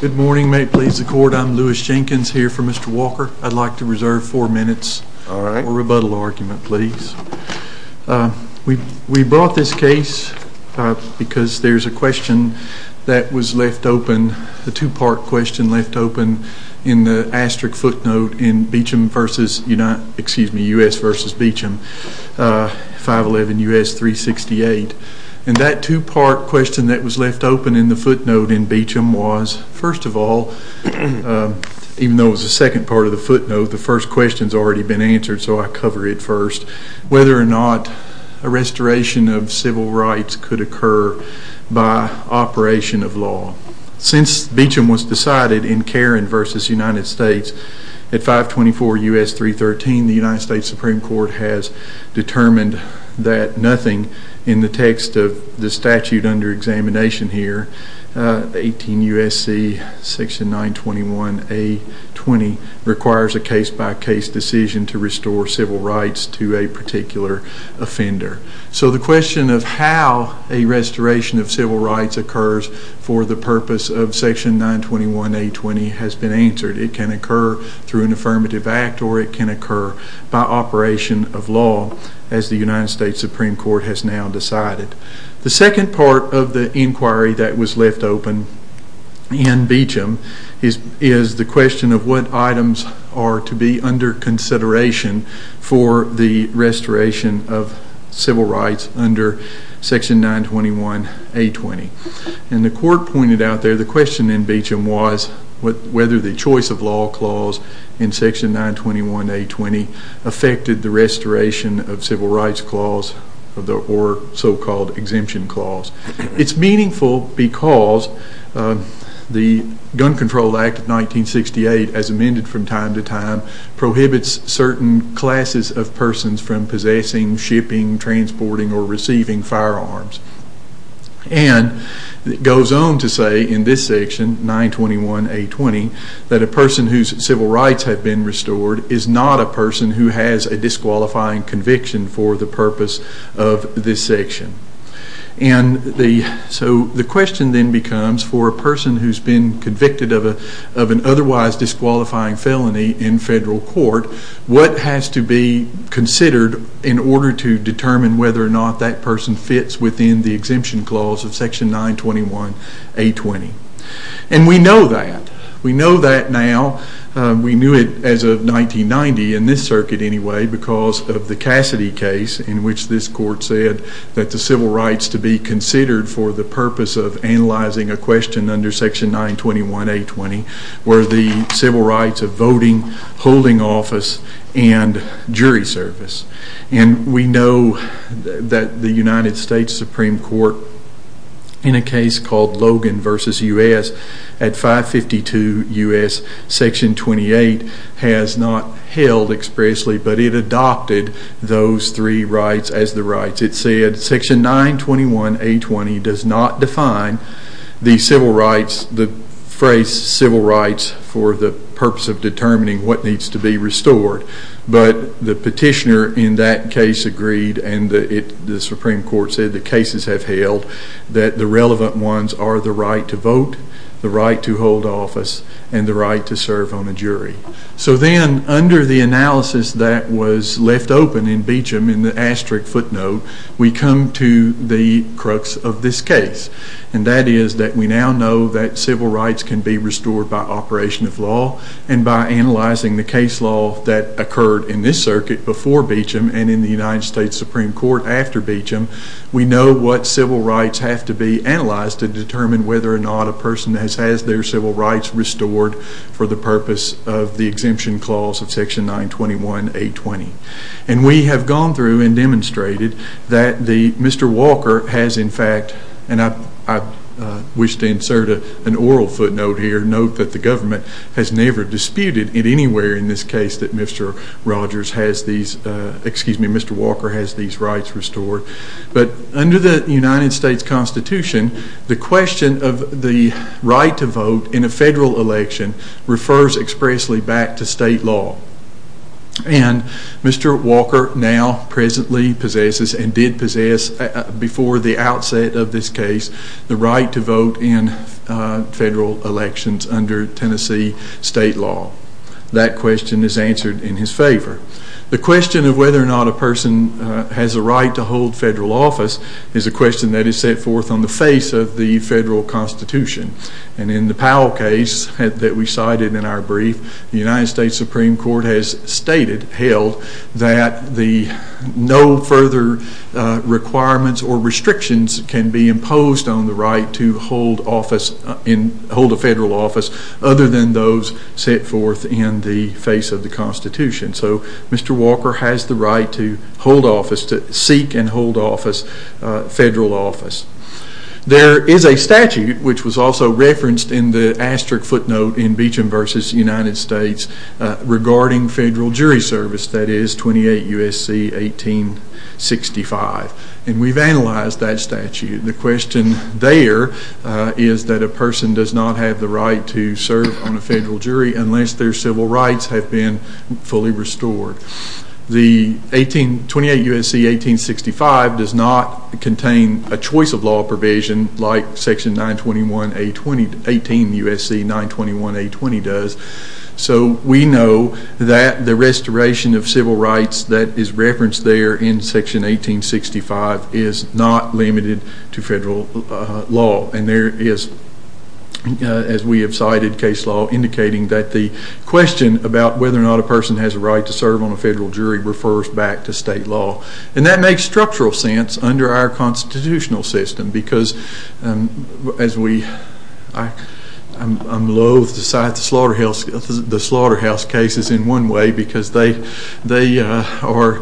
Good morning, may it please the court, I'm Louis Jenkins here for Mr. Walker. I'd like to reserve four minutes for a rebuttal argument, please. We brought this case because there's a question that was left open, a two-part question left open in the asterisk footnote in Beecham v. United, excuse me, U.S. v. Beecham, 511 U.S. 368. And that two-part question that was left open in the footnote in Beecham was, first of all, even though it was the second part of the footnote, the first question's already been answered so I cover it first, whether or not a restoration of civil rights could occur by operation of law. Since Beecham was decided in Karen v. United States at 524 U.S. 313, the United States Supreme Court has determined that nothing in the text of the statute under examination here, 18 U.S. 921A20, requires a case-by-case decision to restore civil rights to a particular offender. So the question of how a restoration of civil rights occurs for the purpose of section 921A20 has been answered. It can occur through an affirmative act or it can occur by operation of law, as the United States Supreme Court has now decided. The second part of the inquiry that was left open in Beecham is the question of what items are to be under consideration for the restoration of civil rights under section 921A20. And the court pointed out there the question in Beecham was whether the choice of law clause in section 921A20 affected the restoration of civil rights clause or so-called exemption clause. It's meaningful because the Gun Control Act of 1968, as amended from time to time, prohibits certain classes of persons from possessing, shipping, transporting, or receiving firearms. And it goes on to say in this section, 921A20, that a person whose civil rights have been restored is not a person who has a disqualifying conviction for the purpose of this section. And so the question then becomes for a person who's been convicted of an otherwise disqualifying felony in federal court, what has to be considered in order to determine whether or not that person fits within the exemption clause of section 921A20. And we know that. We know that now. We knew it as of 1990, in this circuit anyway, because of the Cassidy case in which this court said that the civil rights to be considered for the purpose of analyzing a question under section 921A20 were the civil rights of voting, holding office, and jury service. And we know that the United States Supreme Court, in a case called Logan v. U.S. at 552 U.S. section 28, has not held expressly, but it adopted those three rights as the rights. It said section 921A20 does not define the civil rights, the phrase civil rights, for the purpose of determining what needs to be restored. But the petitioner in that case agreed, and the Supreme Court said the cases have held, that the relevant ones are the right to vote, the right to serve on a jury. So then, under the analysis that was left open in Beecham in the asterisk footnote, we come to the crux of this case. And that is that we now know that civil rights can be restored by operation of law, and by analyzing the case law that occurred in this circuit before Beecham and in the United States Supreme Court after Beecham, we know what civil rights have to be analyzed to determine whether or not a person has their civil rights restored for the purpose of the exemption clause of section 921A20. And we have gone through and demonstrated that Mr. Walker has in fact, and I wish to insert an oral footnote here, note that the government has never disputed it anywhere in this case that Mr. Rogers has these, excuse me, Mr. Walker has these rights restored. But under the United States Constitution, the question of the right to vote in a federal election refers expressly back to state law. And Mr. Walker now presently possesses, and did possess before the outset of this case, the right to vote in federal elections under Tennessee state law. That question is answered in his favor. The question of whether or not a person has a right to hold federal office is a question that is set forth on the face of the federal Constitution. And in the Powell case that we cited in our brief, the United States Supreme Court has stated, held, that the no further requirements or restrictions can be imposed on the right to hold office, hold a federal office other than those set forth in the face of the Constitution. So Mr. Walker has the right to hold office, to seek and hold office, federal office. There is a statute, which was also referenced in the asterisk footnote in Beecham v. United States, regarding federal jury service, that is 28 U.S.C. 1865. And we've analyzed that statute. The question there is that a person does not have the right to serve on a federal jury unless their civil rights have been fully restored. The 28 U.S.C. 1865 does not contain a choice of law provision like section 921A20, 18 U.S.C. 921A20 does. So we know that the restoration of civil rights that is referenced there in section 1865 is not limited to federal law. And there is, as we have cited, case law indicating that the question about whether or not a person has a right to serve on a federal jury refers back to state law. And that makes structural sense under our constitutional system because as we, I'm loath to cite the slaughterhouse cases in one way because they are,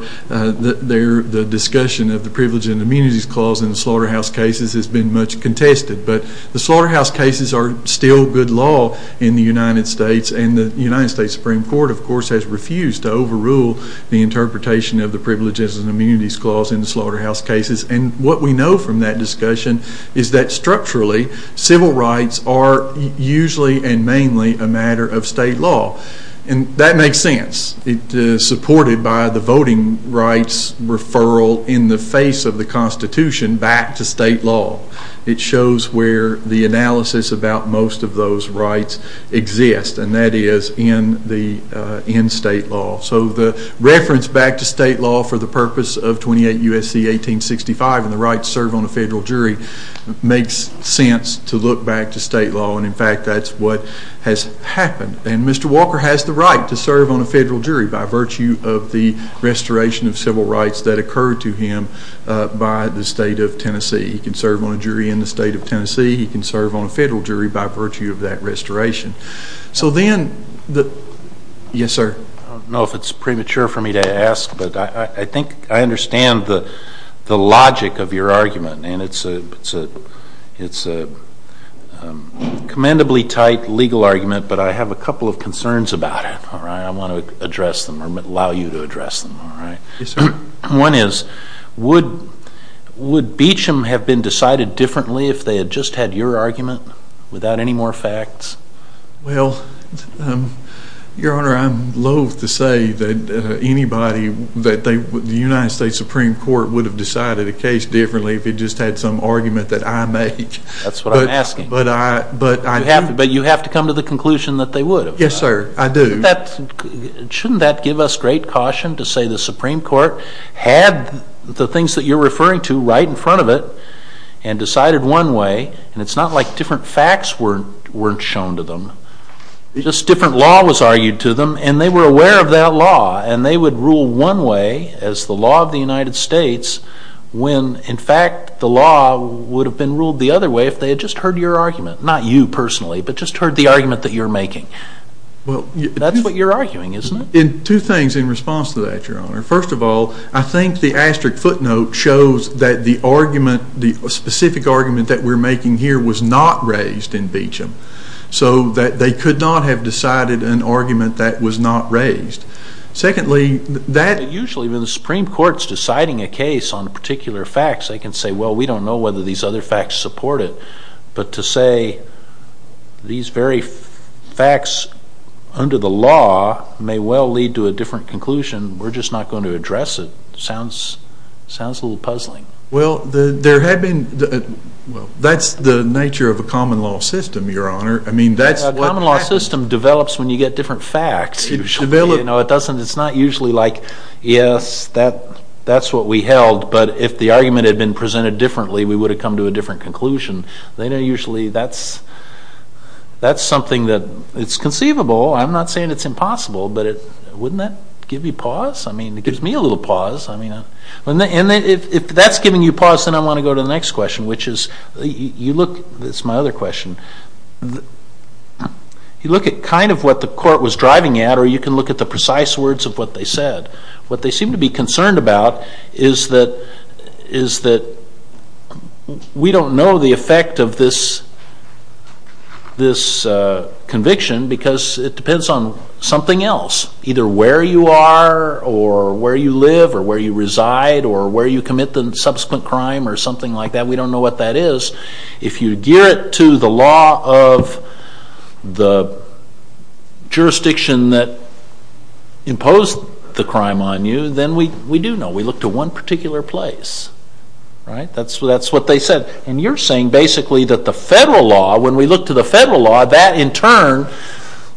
the discussion of the privilege and immunities clause in the slaughterhouse cases has been much contested. But the slaughterhouse cases are still good law in the United States and the United States Supreme Court, of course, has refused to overrule the interpretation of the privileges and immunities clause in the slaughterhouse cases. And what we know from that discussion is that structurally civil rights are usually and mainly a matter of state law. And that makes sense. It's supported by the voting rights referral in the face of the Constitution back to state law. It shows where the analysis about most of those rights exist, and that is in state law. So the reference back to state law for the purpose of 28 U.S.C. 1865 and the right to serve on a federal jury makes sense to look back to state law. And in fact, that's what has happened. And Mr. Walker has the right to serve on a federal jury by virtue of the restoration of civil rights that occurred to him by the state of Tennessee. He can serve on a jury in the state of Tennessee. He can serve on a federal jury by virtue of that restoration. So then the, yes sir? I don't know if it's premature for me to ask, but I think I understand the logic of your argument. And it's a commendably tight legal argument, but I have a couple of concerns about it, all right? I want to address them or allow you to address them, all right? Yes, sir. One is, would Beecham have been decided differently if they had just had your argument without any more facts? Well, Your Honor, I'm loathe to say that anybody that they, the United States Supreme Court would have decided a case differently if it just had some argument that I make. That's what I'm asking. But I... But you have to come to the conclusion that they would have. Yes, sir. I do. Shouldn't that give us great caution to say the Supreme Court had the things that you're referring to right in front of it and decided one way, and it's not like different facts weren't shown to them. Just different law was argued to them, and they were aware of that law, and they would rule one way as the law of the United States when, in fact, the law would have been ruled the argument that you're making. That's what you're arguing, isn't it? Two things in response to that, Your Honor. First of all, I think the asterisk footnote shows that the argument, the specific argument that we're making here was not raised in Beecham, so that they could not have decided an argument that was not raised. Secondly, that... Usually when the Supreme Court's deciding a case on particular facts, they can say, well, we don't know whether these other facts support it, but to say these very facts under the law may well lead to a different conclusion, we're just not going to address it, sounds a little puzzling. Well, there had been... Well, that's the nature of a common law system, Your Honor. I mean, that's what... A common law system develops when you get different facts. It doesn't... It's not usually like, yes, that's what we held, but if the court had come to a different conclusion, then usually that's something that's conceivable. I'm not saying it's impossible, but wouldn't that give you pause? I mean, it gives me a little pause. And if that's giving you pause, then I want to go to the next question, which is, you look... That's my other question. You look at kind of what the court was driving at, or you can look at the precise words of what they said. What they seem to be concerned about is that... We don't know the effect of this conviction because it depends on something else, either where you are, or where you live, or where you reside, or where you commit the subsequent crime, or something like that. We don't know what that is. If you gear it to the law of the jurisdiction that imposed the crime on you, then we do know. We look to one particular place, right? That's what they said. And you're saying basically that the federal law, when we look to the federal law, that in turn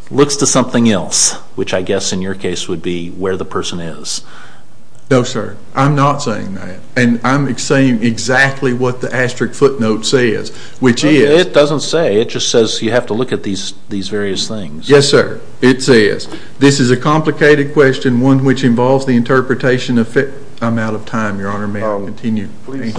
looks to something else, which I guess in your case would be where the person is. No, sir. I'm not saying that. And I'm saying exactly what the asterisk footnote says, which is... It doesn't say. It just says you have to look at these various things. Yes, sir. It says, this is a complicated question, one which involves the interpretation of... I'm out of time, Your Honor. May I continue? This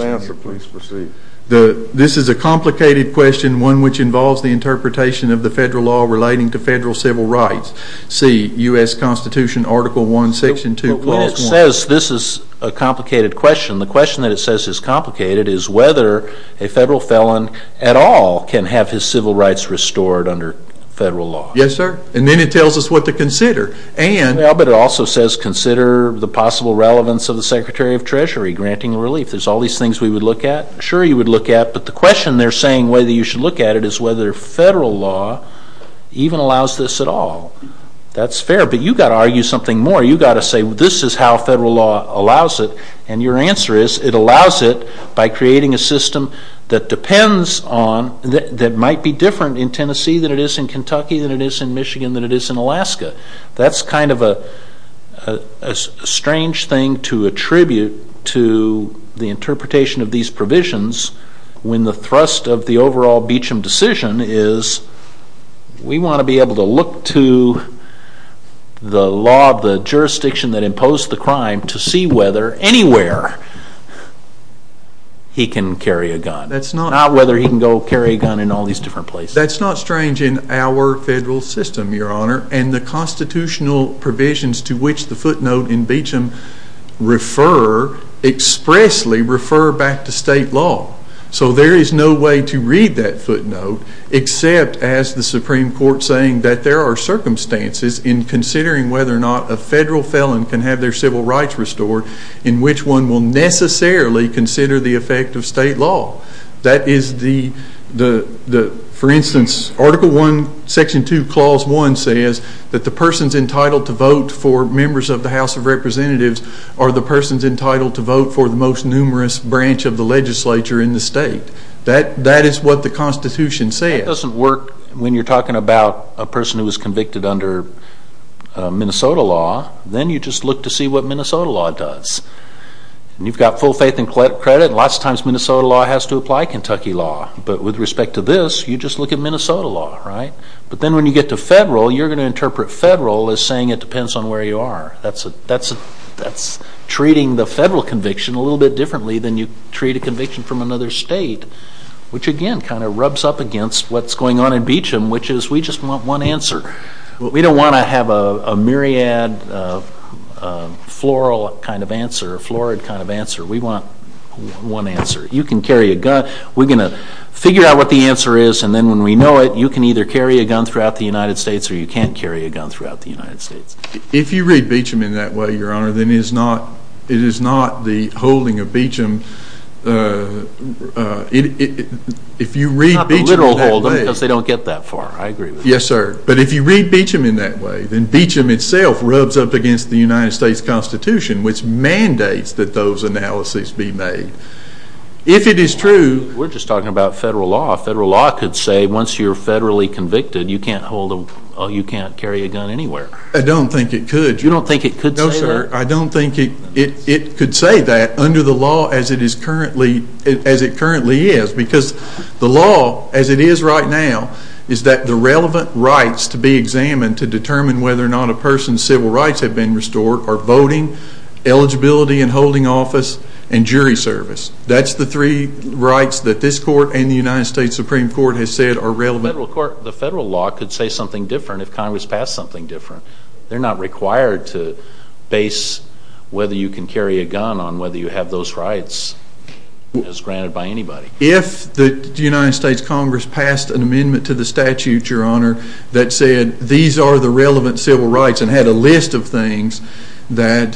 is a complicated question, one which involves the interpretation of the federal law relating to federal civil rights. See, U.S. Constitution, Article 1, Section 2, Clause 1. This is a complicated question. The question that it says is complicated is whether a federal felon at all can have his civil rights restored under federal law. Yes, sir. And then it tells us what to consider, and... Well, but it also says consider the possible relevance of the Secretary of Treasury granting relief. There's all these things we would look at. Sure, you would look at, but the question they're saying whether you should look at it is whether federal law even allows this at all. That's fair, but you got to argue something more. You got to say, this is how federal law allows it. And your answer is, it allows it by creating a system that depends on... That might be different in Tennessee than it is in Kentucky, than it is in Michigan, than it is in Alaska. That's kind of a strange thing to attribute to the interpretation of these provisions when the thrust of the overall Beecham decision is, we want to be able to look to the law, the jurisdiction that imposed the crime to see whether anywhere he can carry a gun. Not whether he can go carry a gun in all these different places. That's not strange in our federal system, Your Honor, and the constitutional provisions to which the footnote in Beecham refer, expressly refer back to state law. So there is no way to read that footnote except as the Supreme Court saying that there are circumstances in considering whether or not a federal felon can have their civil rights restored in which one will necessarily consider the effect of state law. That is the... For instance, Article 1, Section 2, Clause 1 says that the persons entitled to vote for members of the House of Representatives are the persons entitled to vote for the most numerous branch of the legislature in the state. That is what the Constitution says. It doesn't work when you're talking about a person who was convicted under Minnesota law. Then you just look to see what Minnesota law does. You've got full faith and credit, and lots of times Minnesota law has to apply Kentucky law. But with respect to this, you just look at Minnesota law, right? But then when you get to federal, you're going to interpret federal as saying it depends on where you are. That's treating the federal conviction a little bit differently than you treat a conviction from another state, which again kind of rubs up against what's going on in Beecham, which is we just want one answer. We don't want to have a myriad, floral kind of answer, florid kind of answer. We want one answer. You can carry a gun. We're going to figure out what the answer is, and then when we know it, you can either carry a gun throughout the United States or you can't carry a gun throughout the United States. If you read Beecham in that way, Your Honor, then it is not the holding of Beecham, if you read Beecham in that way... It's not the literal hold, because they don't get that far. I agree with that. Yes, sir. But if you read Beecham in that way, then Beecham itself rubs up against the United States Constitution, which mandates that those analyses be made. If it is true... We're just talking about federal law. Federal law could say once you're federally convicted, you can't hold a, you can't carry a gun anywhere. I don't think it could, Your Honor. You don't think it could say that? No, sir. I don't think it could say that under the law as it currently is, because the law, as it is right now, is that the relevant rights to be examined to determine whether or not a person's civil rights have been restored are voting, eligibility and holding office, and jury service. That's the three rights that this court and the United States Supreme Court has said are relevant. The federal law could say something different if Congress passed something different. They're not required to base whether you can carry a gun on whether you have those rights as granted by anybody. If the United States Congress passed an amendment to the statute, Your Honor, that said these are the relevant civil rights and had a list of things that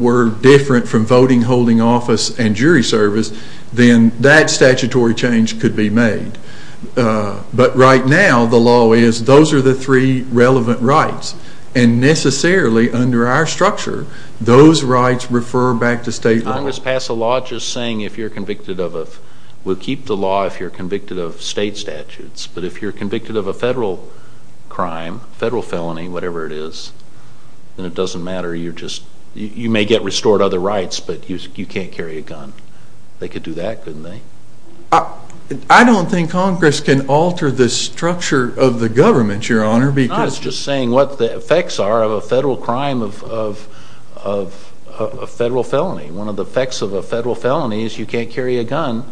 were different from voting, holding office and jury service, then that statutory change could be made. But right now the law is those are the three relevant rights. And necessarily under our structure, those rights refer back to state law. Congress passed a law just saying if you're convicted of a, we'll keep the law if you're convicted of state statutes, but if you're convicted of a federal crime, federal felony, whatever it is, then it doesn't matter. You may get restored other rights, but you can't carry a gun. They could do that, couldn't they? I don't think Congress can alter the structure of the government, Your Honor, because It's not just saying what the effects are of a federal crime of a federal felony. One of the effects of a federal felony is you can't carry a gun.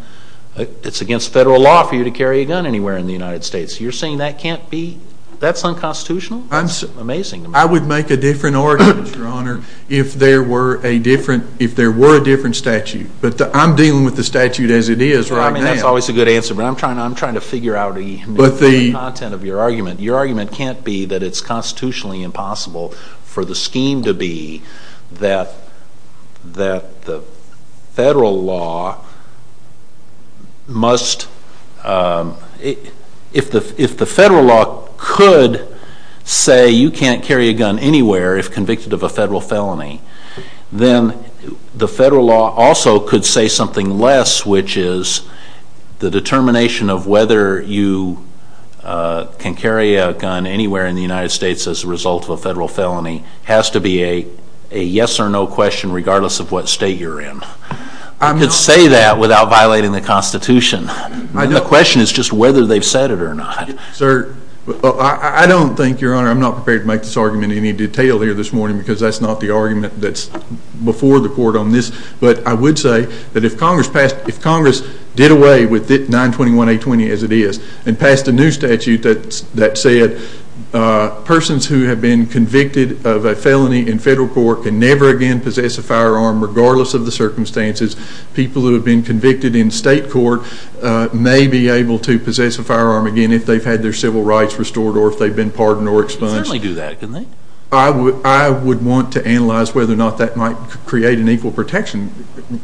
It's against federal law for you to carry a gun anywhere in the United States. You're saying that can't be, that's unconstitutional? Amazing. I would make a different argument, Your Honor, if there were a different statute. But I'm dealing with the statute as it is right now. That's always a good answer, but I'm trying to figure out the content of your argument. Your argument can't be that it's constitutionally impossible for the scheme to be that the federal law must, if the federal law could say you can't carry a gun anywhere if convicted of a federal felony, then the federal law also could say something less, which is the determination of whether you can carry a gun anywhere in the United States as a result of a federal felony has to be a yes or no question regardless of what state you're in. You could say that without violating the Constitution. The question is just whether they've said it or not. Sir, I don't think, Your Honor, I'm not prepared to make this argument in any detail here this morning because that's not the argument that's before the court on this. But I would say that if Congress passed, if Congress did away with 921A20 as it is and passed a new statute that said persons who have been convicted of a felony in federal court can never again possess a firearm regardless of the circumstances, people who have been convicted in state court may be able to possess a firearm again if they've had their civil rights restored or if they've been pardoned or expunged. They certainly do that, don't they? I would want to analyze whether or not that might create an equal protection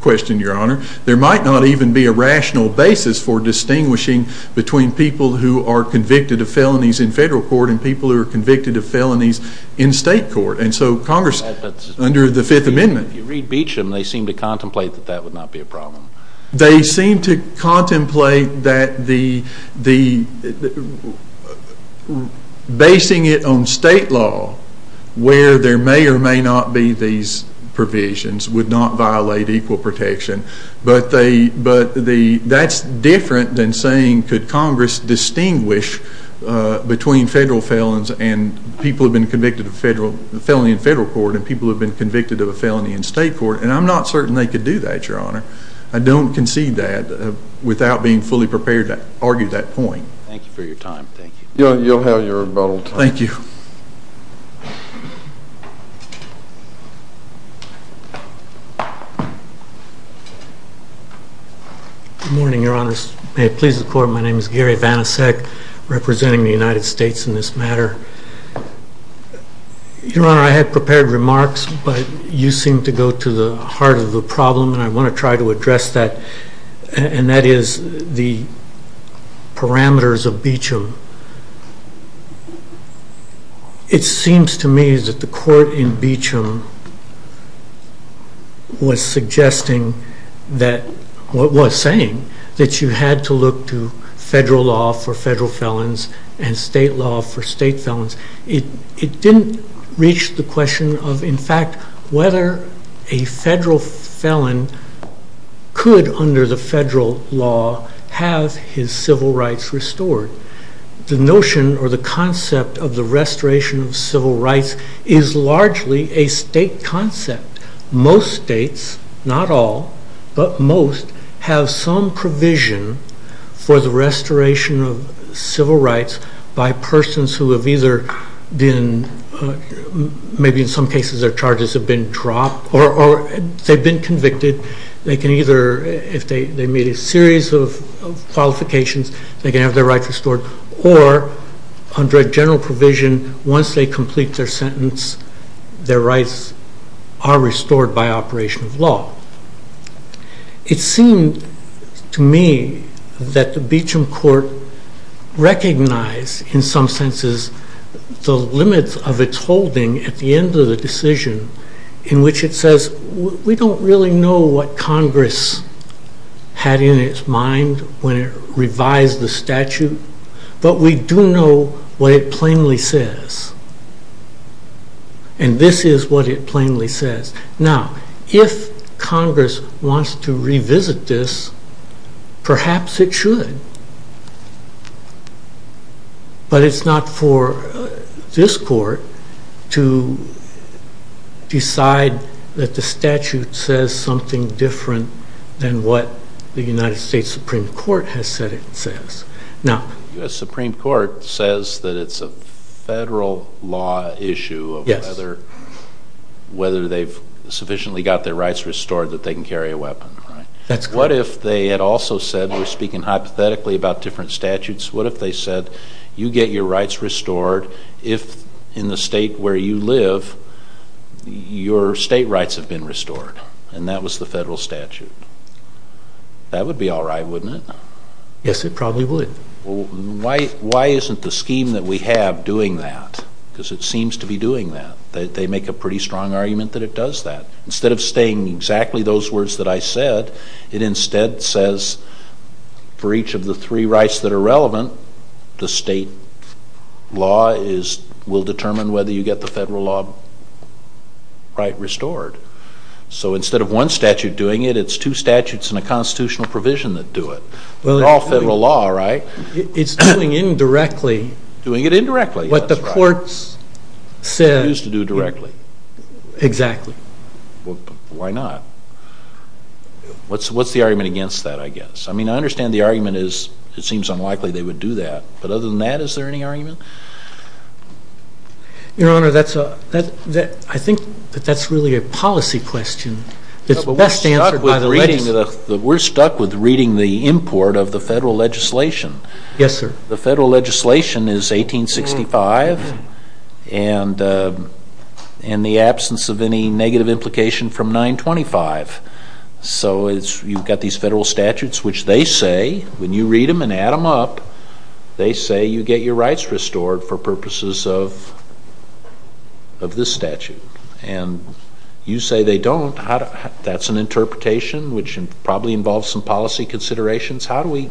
question, Your Honor. There might not even be a rational basis for distinguishing between people who are convicted of felonies in federal court and people who are convicted of felonies in state court. And so Congress, under the Fifth Amendment. If you read Beecham, they seem to contemplate that that would not be a problem. They seem to contemplate that the, basing it on state law where there may or may not be these provisions would not violate equal protection. But that's different than saying could Congress distinguish between federal felons and people who have been convicted of federal, felony in federal court and people who have been convicted of a felony in state court? And I'm not certain they could do that, Your Honor. I don't concede that without being fully prepared to argue that point. Thank you for your time. Thank you. You'll have your rebuttal. Thank you. Good morning, Your Honors. May it please the Court, my name is Gary Vanasek, representing the United States in this matter. Your Honor, I had prepared remarks, but you seem to go to the heart of the problem, and I want to try to address that, and that is the parameters of Beecham. It seems to me that the court in Beecham was suggesting that, or was saying, that you had to look to federal law for federal felons and state law for state felons. It didn't reach the question of, in fact, whether a federal felon could, under the federal law, have his civil rights restored. The notion or the concept of the restoration of civil for the restoration of civil rights by persons who have either been, maybe in some cases their charges have been dropped, or they've been convicted, they can either, if they meet a series of qualifications, they can have their rights restored, or under a general provision, once they complete their sentence, their rights are restored by operation of law. It seemed to me that the Beecham court recognized, in some senses, the limits of its holding at the end of the decision, in which it says, we don't really know what Congress had in its mind when it revised the statute, but we do know what it plainly says, and this is what it plainly says. Now, if Congress wants to revisit this, perhaps it should, but it's not for this court to decide that the statute says something different than what the United States Supreme Court has said it says. The Supreme Court says that it's a federal law issue of whether they've sufficiently got their rights restored that they can carry a weapon, right? That's correct. What if they had also said, we're speaking hypothetically about different statutes, what if they said, you get your rights restored, if in the state where you live, your state rights have been restored, and that was the federal statute? That would be all right, wouldn't it? Yes, it probably would. Why isn't the scheme that we have doing that? Because it seems to be doing that. They make a pretty strong argument that it does that. Instead of saying exactly those words that I said, it instead says, for each of the three rights that are relevant, the state law will determine whether you get the federal law right restored. So instead of one statute doing it, it's two statutes and a constitutional provision that do it. They're all federal law, right? It's doing it indirectly. Doing it indirectly, that's right. What the courts said. It's used to do directly. Exactly. Why not? What's the argument against that, I guess? I mean, I understand the argument is it seems unlikely they would do that, but other than that, is there any argument? Your Honor, I think that that's really a policy question that's best answered by the legislature. No, but we're stuck with reading the import of the federal legislation. Yes, sir. The federal legislation is 1865, and in the absence of any negative implication from 925. So you've got these federal statutes which they say, when you read them and add them up, they say you get your rights restored for purposes of this statute. And you say they don't. That's an interpretation which probably involves some We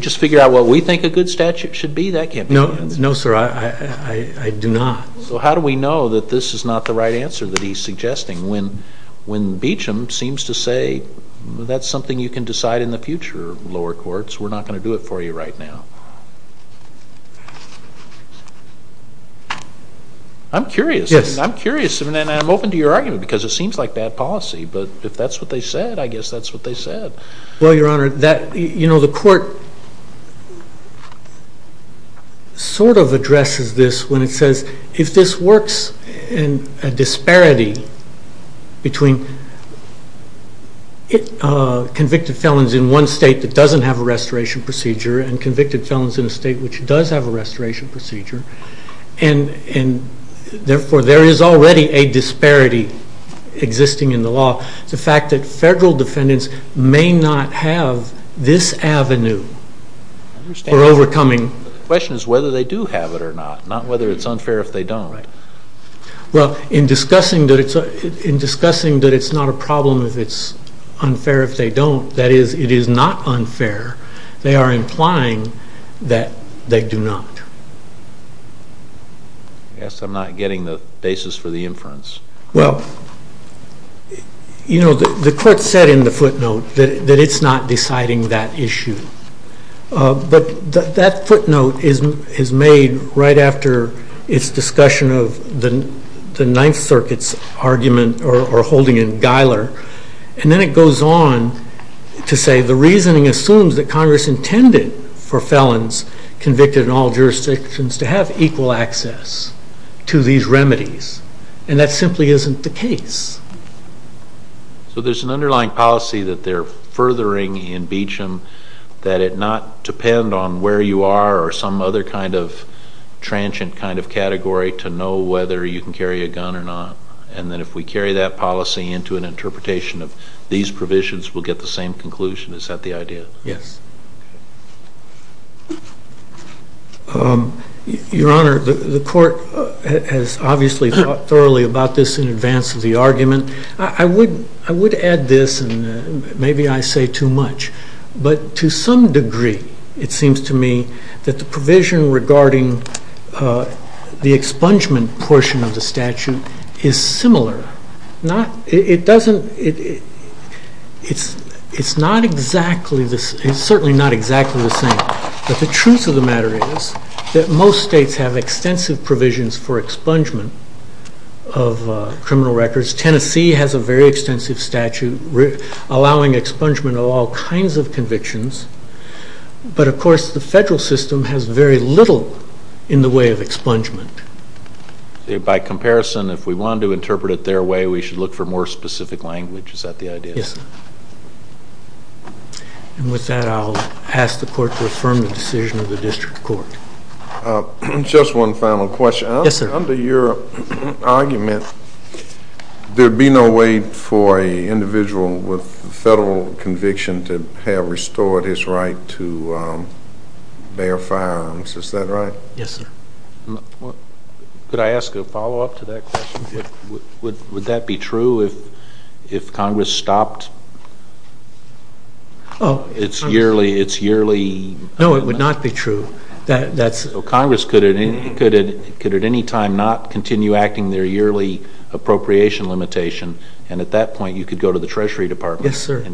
just figured out what we think a good statute should be. That can't be the answer. No, sir. I do not. So how do we know that this is not the right answer that he's suggesting when Beecham seems to say that's something you can decide in the future, lower courts. We're not going to do it for you right now. I'm curious. Yes. I'm curious, and I'm open to your argument because it seems like bad policy, but if that's what they said, I guess that's what they said. Well, Your Honor, the court sort of addresses this when it says if this works in a disparity between convicted felons in one state that doesn't have a restoration procedure and convicted felons in a state which does have a restoration procedure, and therefore there is already a disparity existing in the law, the fact that federal defendants may not have this avenue for overcoming. The question is whether they do have it or not, not whether it's unfair if they don't. Right. Well, in discussing that it's not a problem if it's unfair if they don't, that is, it is not unfair, they are implying that they do not. Yes, I'm not getting the basis for the inference. Well, you know, the court said in the footnote that it's not deciding that issue, but that footnote is made right after its discussion of the Ninth Circuit's argument or holding in Geiler, and then it goes on to say the reasoning assumes that Congress intended for felons convicted in all jurisdictions to have equal access to these remedies, and that simply isn't the case. So there's an underlying policy that they're furthering in Beecham that it not depend on where you are or some other kind of transient kind of category to know whether you can carry a gun or not, and then if we carry that policy into an interpretation of these provisions we'll get the same conclusion. Is that the idea? Yes. Your Honor, the court has obviously thought thoroughly about this in advance of the argument. I would add this, and maybe I say too much, but to some degree it seems to me that the provision regarding the expungement portion of the statute is similar. It's certainly not exactly the same, but the truth of the matter is that most states have extensive provisions for expungement of criminal records. Tennessee has a very extensive statute allowing expungement of all kinds of convictions, but of course the federal system has very little in the way of expungement. By comparison, if we want to interpret it their way, we should look for more specific language. Is that the idea? Yes. And with that I'll ask the court to affirm the decision of the district court. Just one final question. Yes, sir. Under your argument, there'd be no way for an individual with federal conviction to have restored his right to bear firearms. Is that right? Yes, sir. Could I ask a follow-up to that question? Would that be true if Congress stopped its yearly... No, it would not be true. Congress could at any time not continue acting their treasury department and get it. Yes, sir.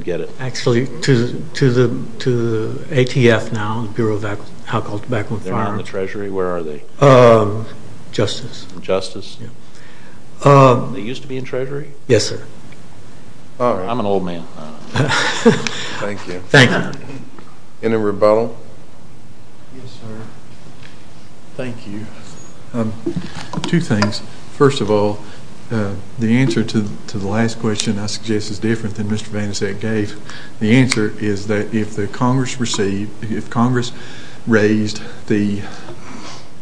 Actually, to the ATF now, the Bureau of Alcohol, Tobacco, and Fire. They're not in the treasury? Where are they? Justice. They used to be in treasury? Yes, sir. I'm an old man. Thank you. Any rebuttal? Yes, sir. Thank you. Two things. First of all, the answer to the last question I suggest is different than Mr. Van Dsek gave. The answer is that if Congress raised the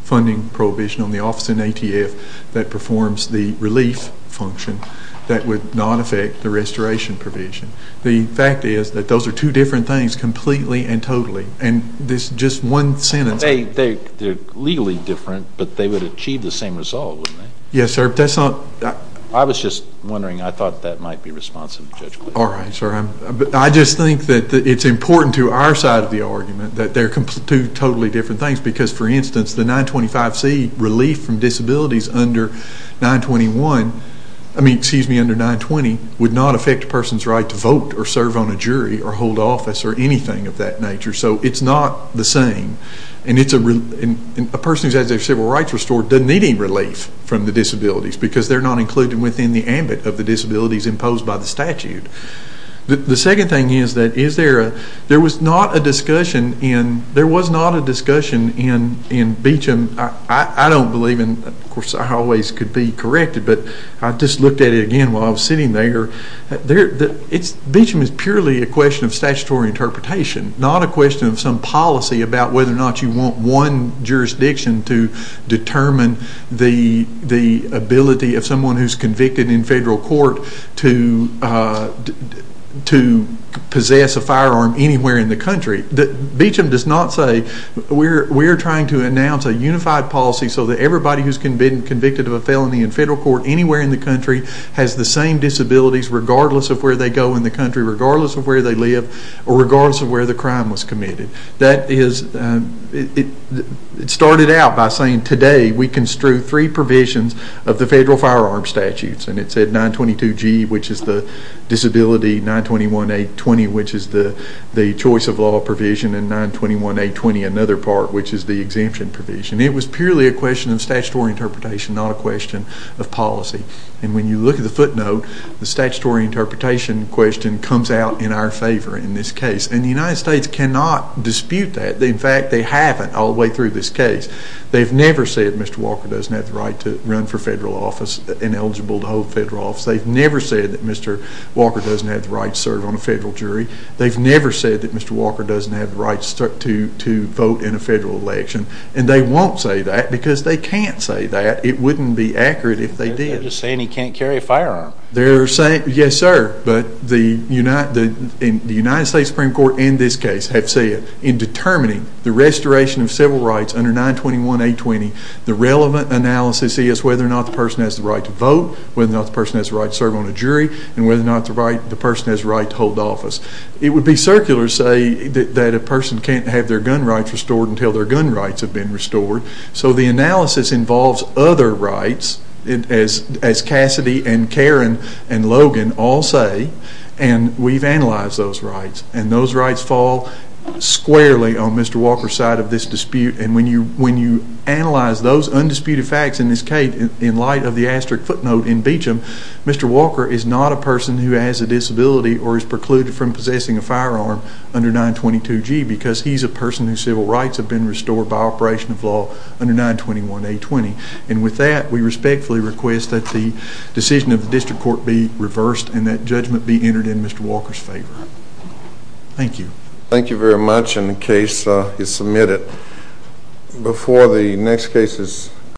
funding prohibition on the office in ATF that performs the relief function, that would not affect the restoration provision. The fact is that those are two different things completely and totally. And this just one sentence... They're legally different, but they would achieve the same result, wouldn't they? Yes, sir. I was just wondering. I thought that might be responsive to Judge Quigley. All right, sir. I just think that it's important to our side of the argument that they're two totally different things. Because, for instance, the 925C relief from disabilities under 920 would not affect a person's right to vote or serve on a jury or hold office or anything of that nature. So it's not the same. And a person who has their civil rights restored doesn't need any relief from the disabilities because they're not included within the ambit of the disabilities imposed by the statute. The second thing is that there was not a discussion in Beecham... I don't believe in... Of course, I always could be corrected, but I just looked at it again while I was sitting there. Beecham is purely a question of statutory interpretation, not a question of some policy about whether or not you want one jurisdiction to determine the ability of someone who's convicted in federal court to possess a firearm anywhere in the country. Beecham does not say we're trying to announce a unified policy so that everybody who's convicted of a felony in federal court anywhere in the country has the same disabilities regardless of where they go in the country, regardless of where they live, or regardless of where the crime was committed. That is... It started out by saying today we construe three provisions of the federal firearm statutes, and it said 922G, which is the disability, 921A20, which is the choice of law provision, and 921A20, another part, which is the exemption provision. It was purely a question of statutory interpretation, not a question of policy. And when you look at the footnote, the statutory interpretation question comes out in our favor in this case, and the United States cannot dispute that. In fact, they haven't all the way through this case. They've never said Mr. Walker doesn't have the right to run for federal office and eligible to hold federal office. They've never said that Mr. Walker doesn't have the right to serve on a federal jury. They've never said that Mr. Walker doesn't have the right to vote in a federal election, and they won't say that because they can't say that. It wouldn't be accurate if they did. They're just saying he can't carry a firearm. Yes, sir, but the United States Supreme Court in this case have said in determining the restoration of civil rights under 921A20, the relevant analysis is whether or not the person has the right to vote, whether or not the person has the right to serve on a jury, and whether or not the person has the right to hold office. It would be circular to say that a person can't have their gun rights restored until their gun rights, as Cassidy and Karen and Logan all say, and we've analyzed those rights. And those rights fall squarely on Mr. Walker's side of this dispute. And when you analyze those undisputed facts in this case in light of the asterisk footnote in Beecham, Mr. Walker is not a person who has a disability or is precluded from possessing a firearm under 922G because he's a person whose respectfully request that the decision of the district court be reversed and that judgment be entered in Mr. Walker's favor. Thank you. Thank you very much. And the case is submitted.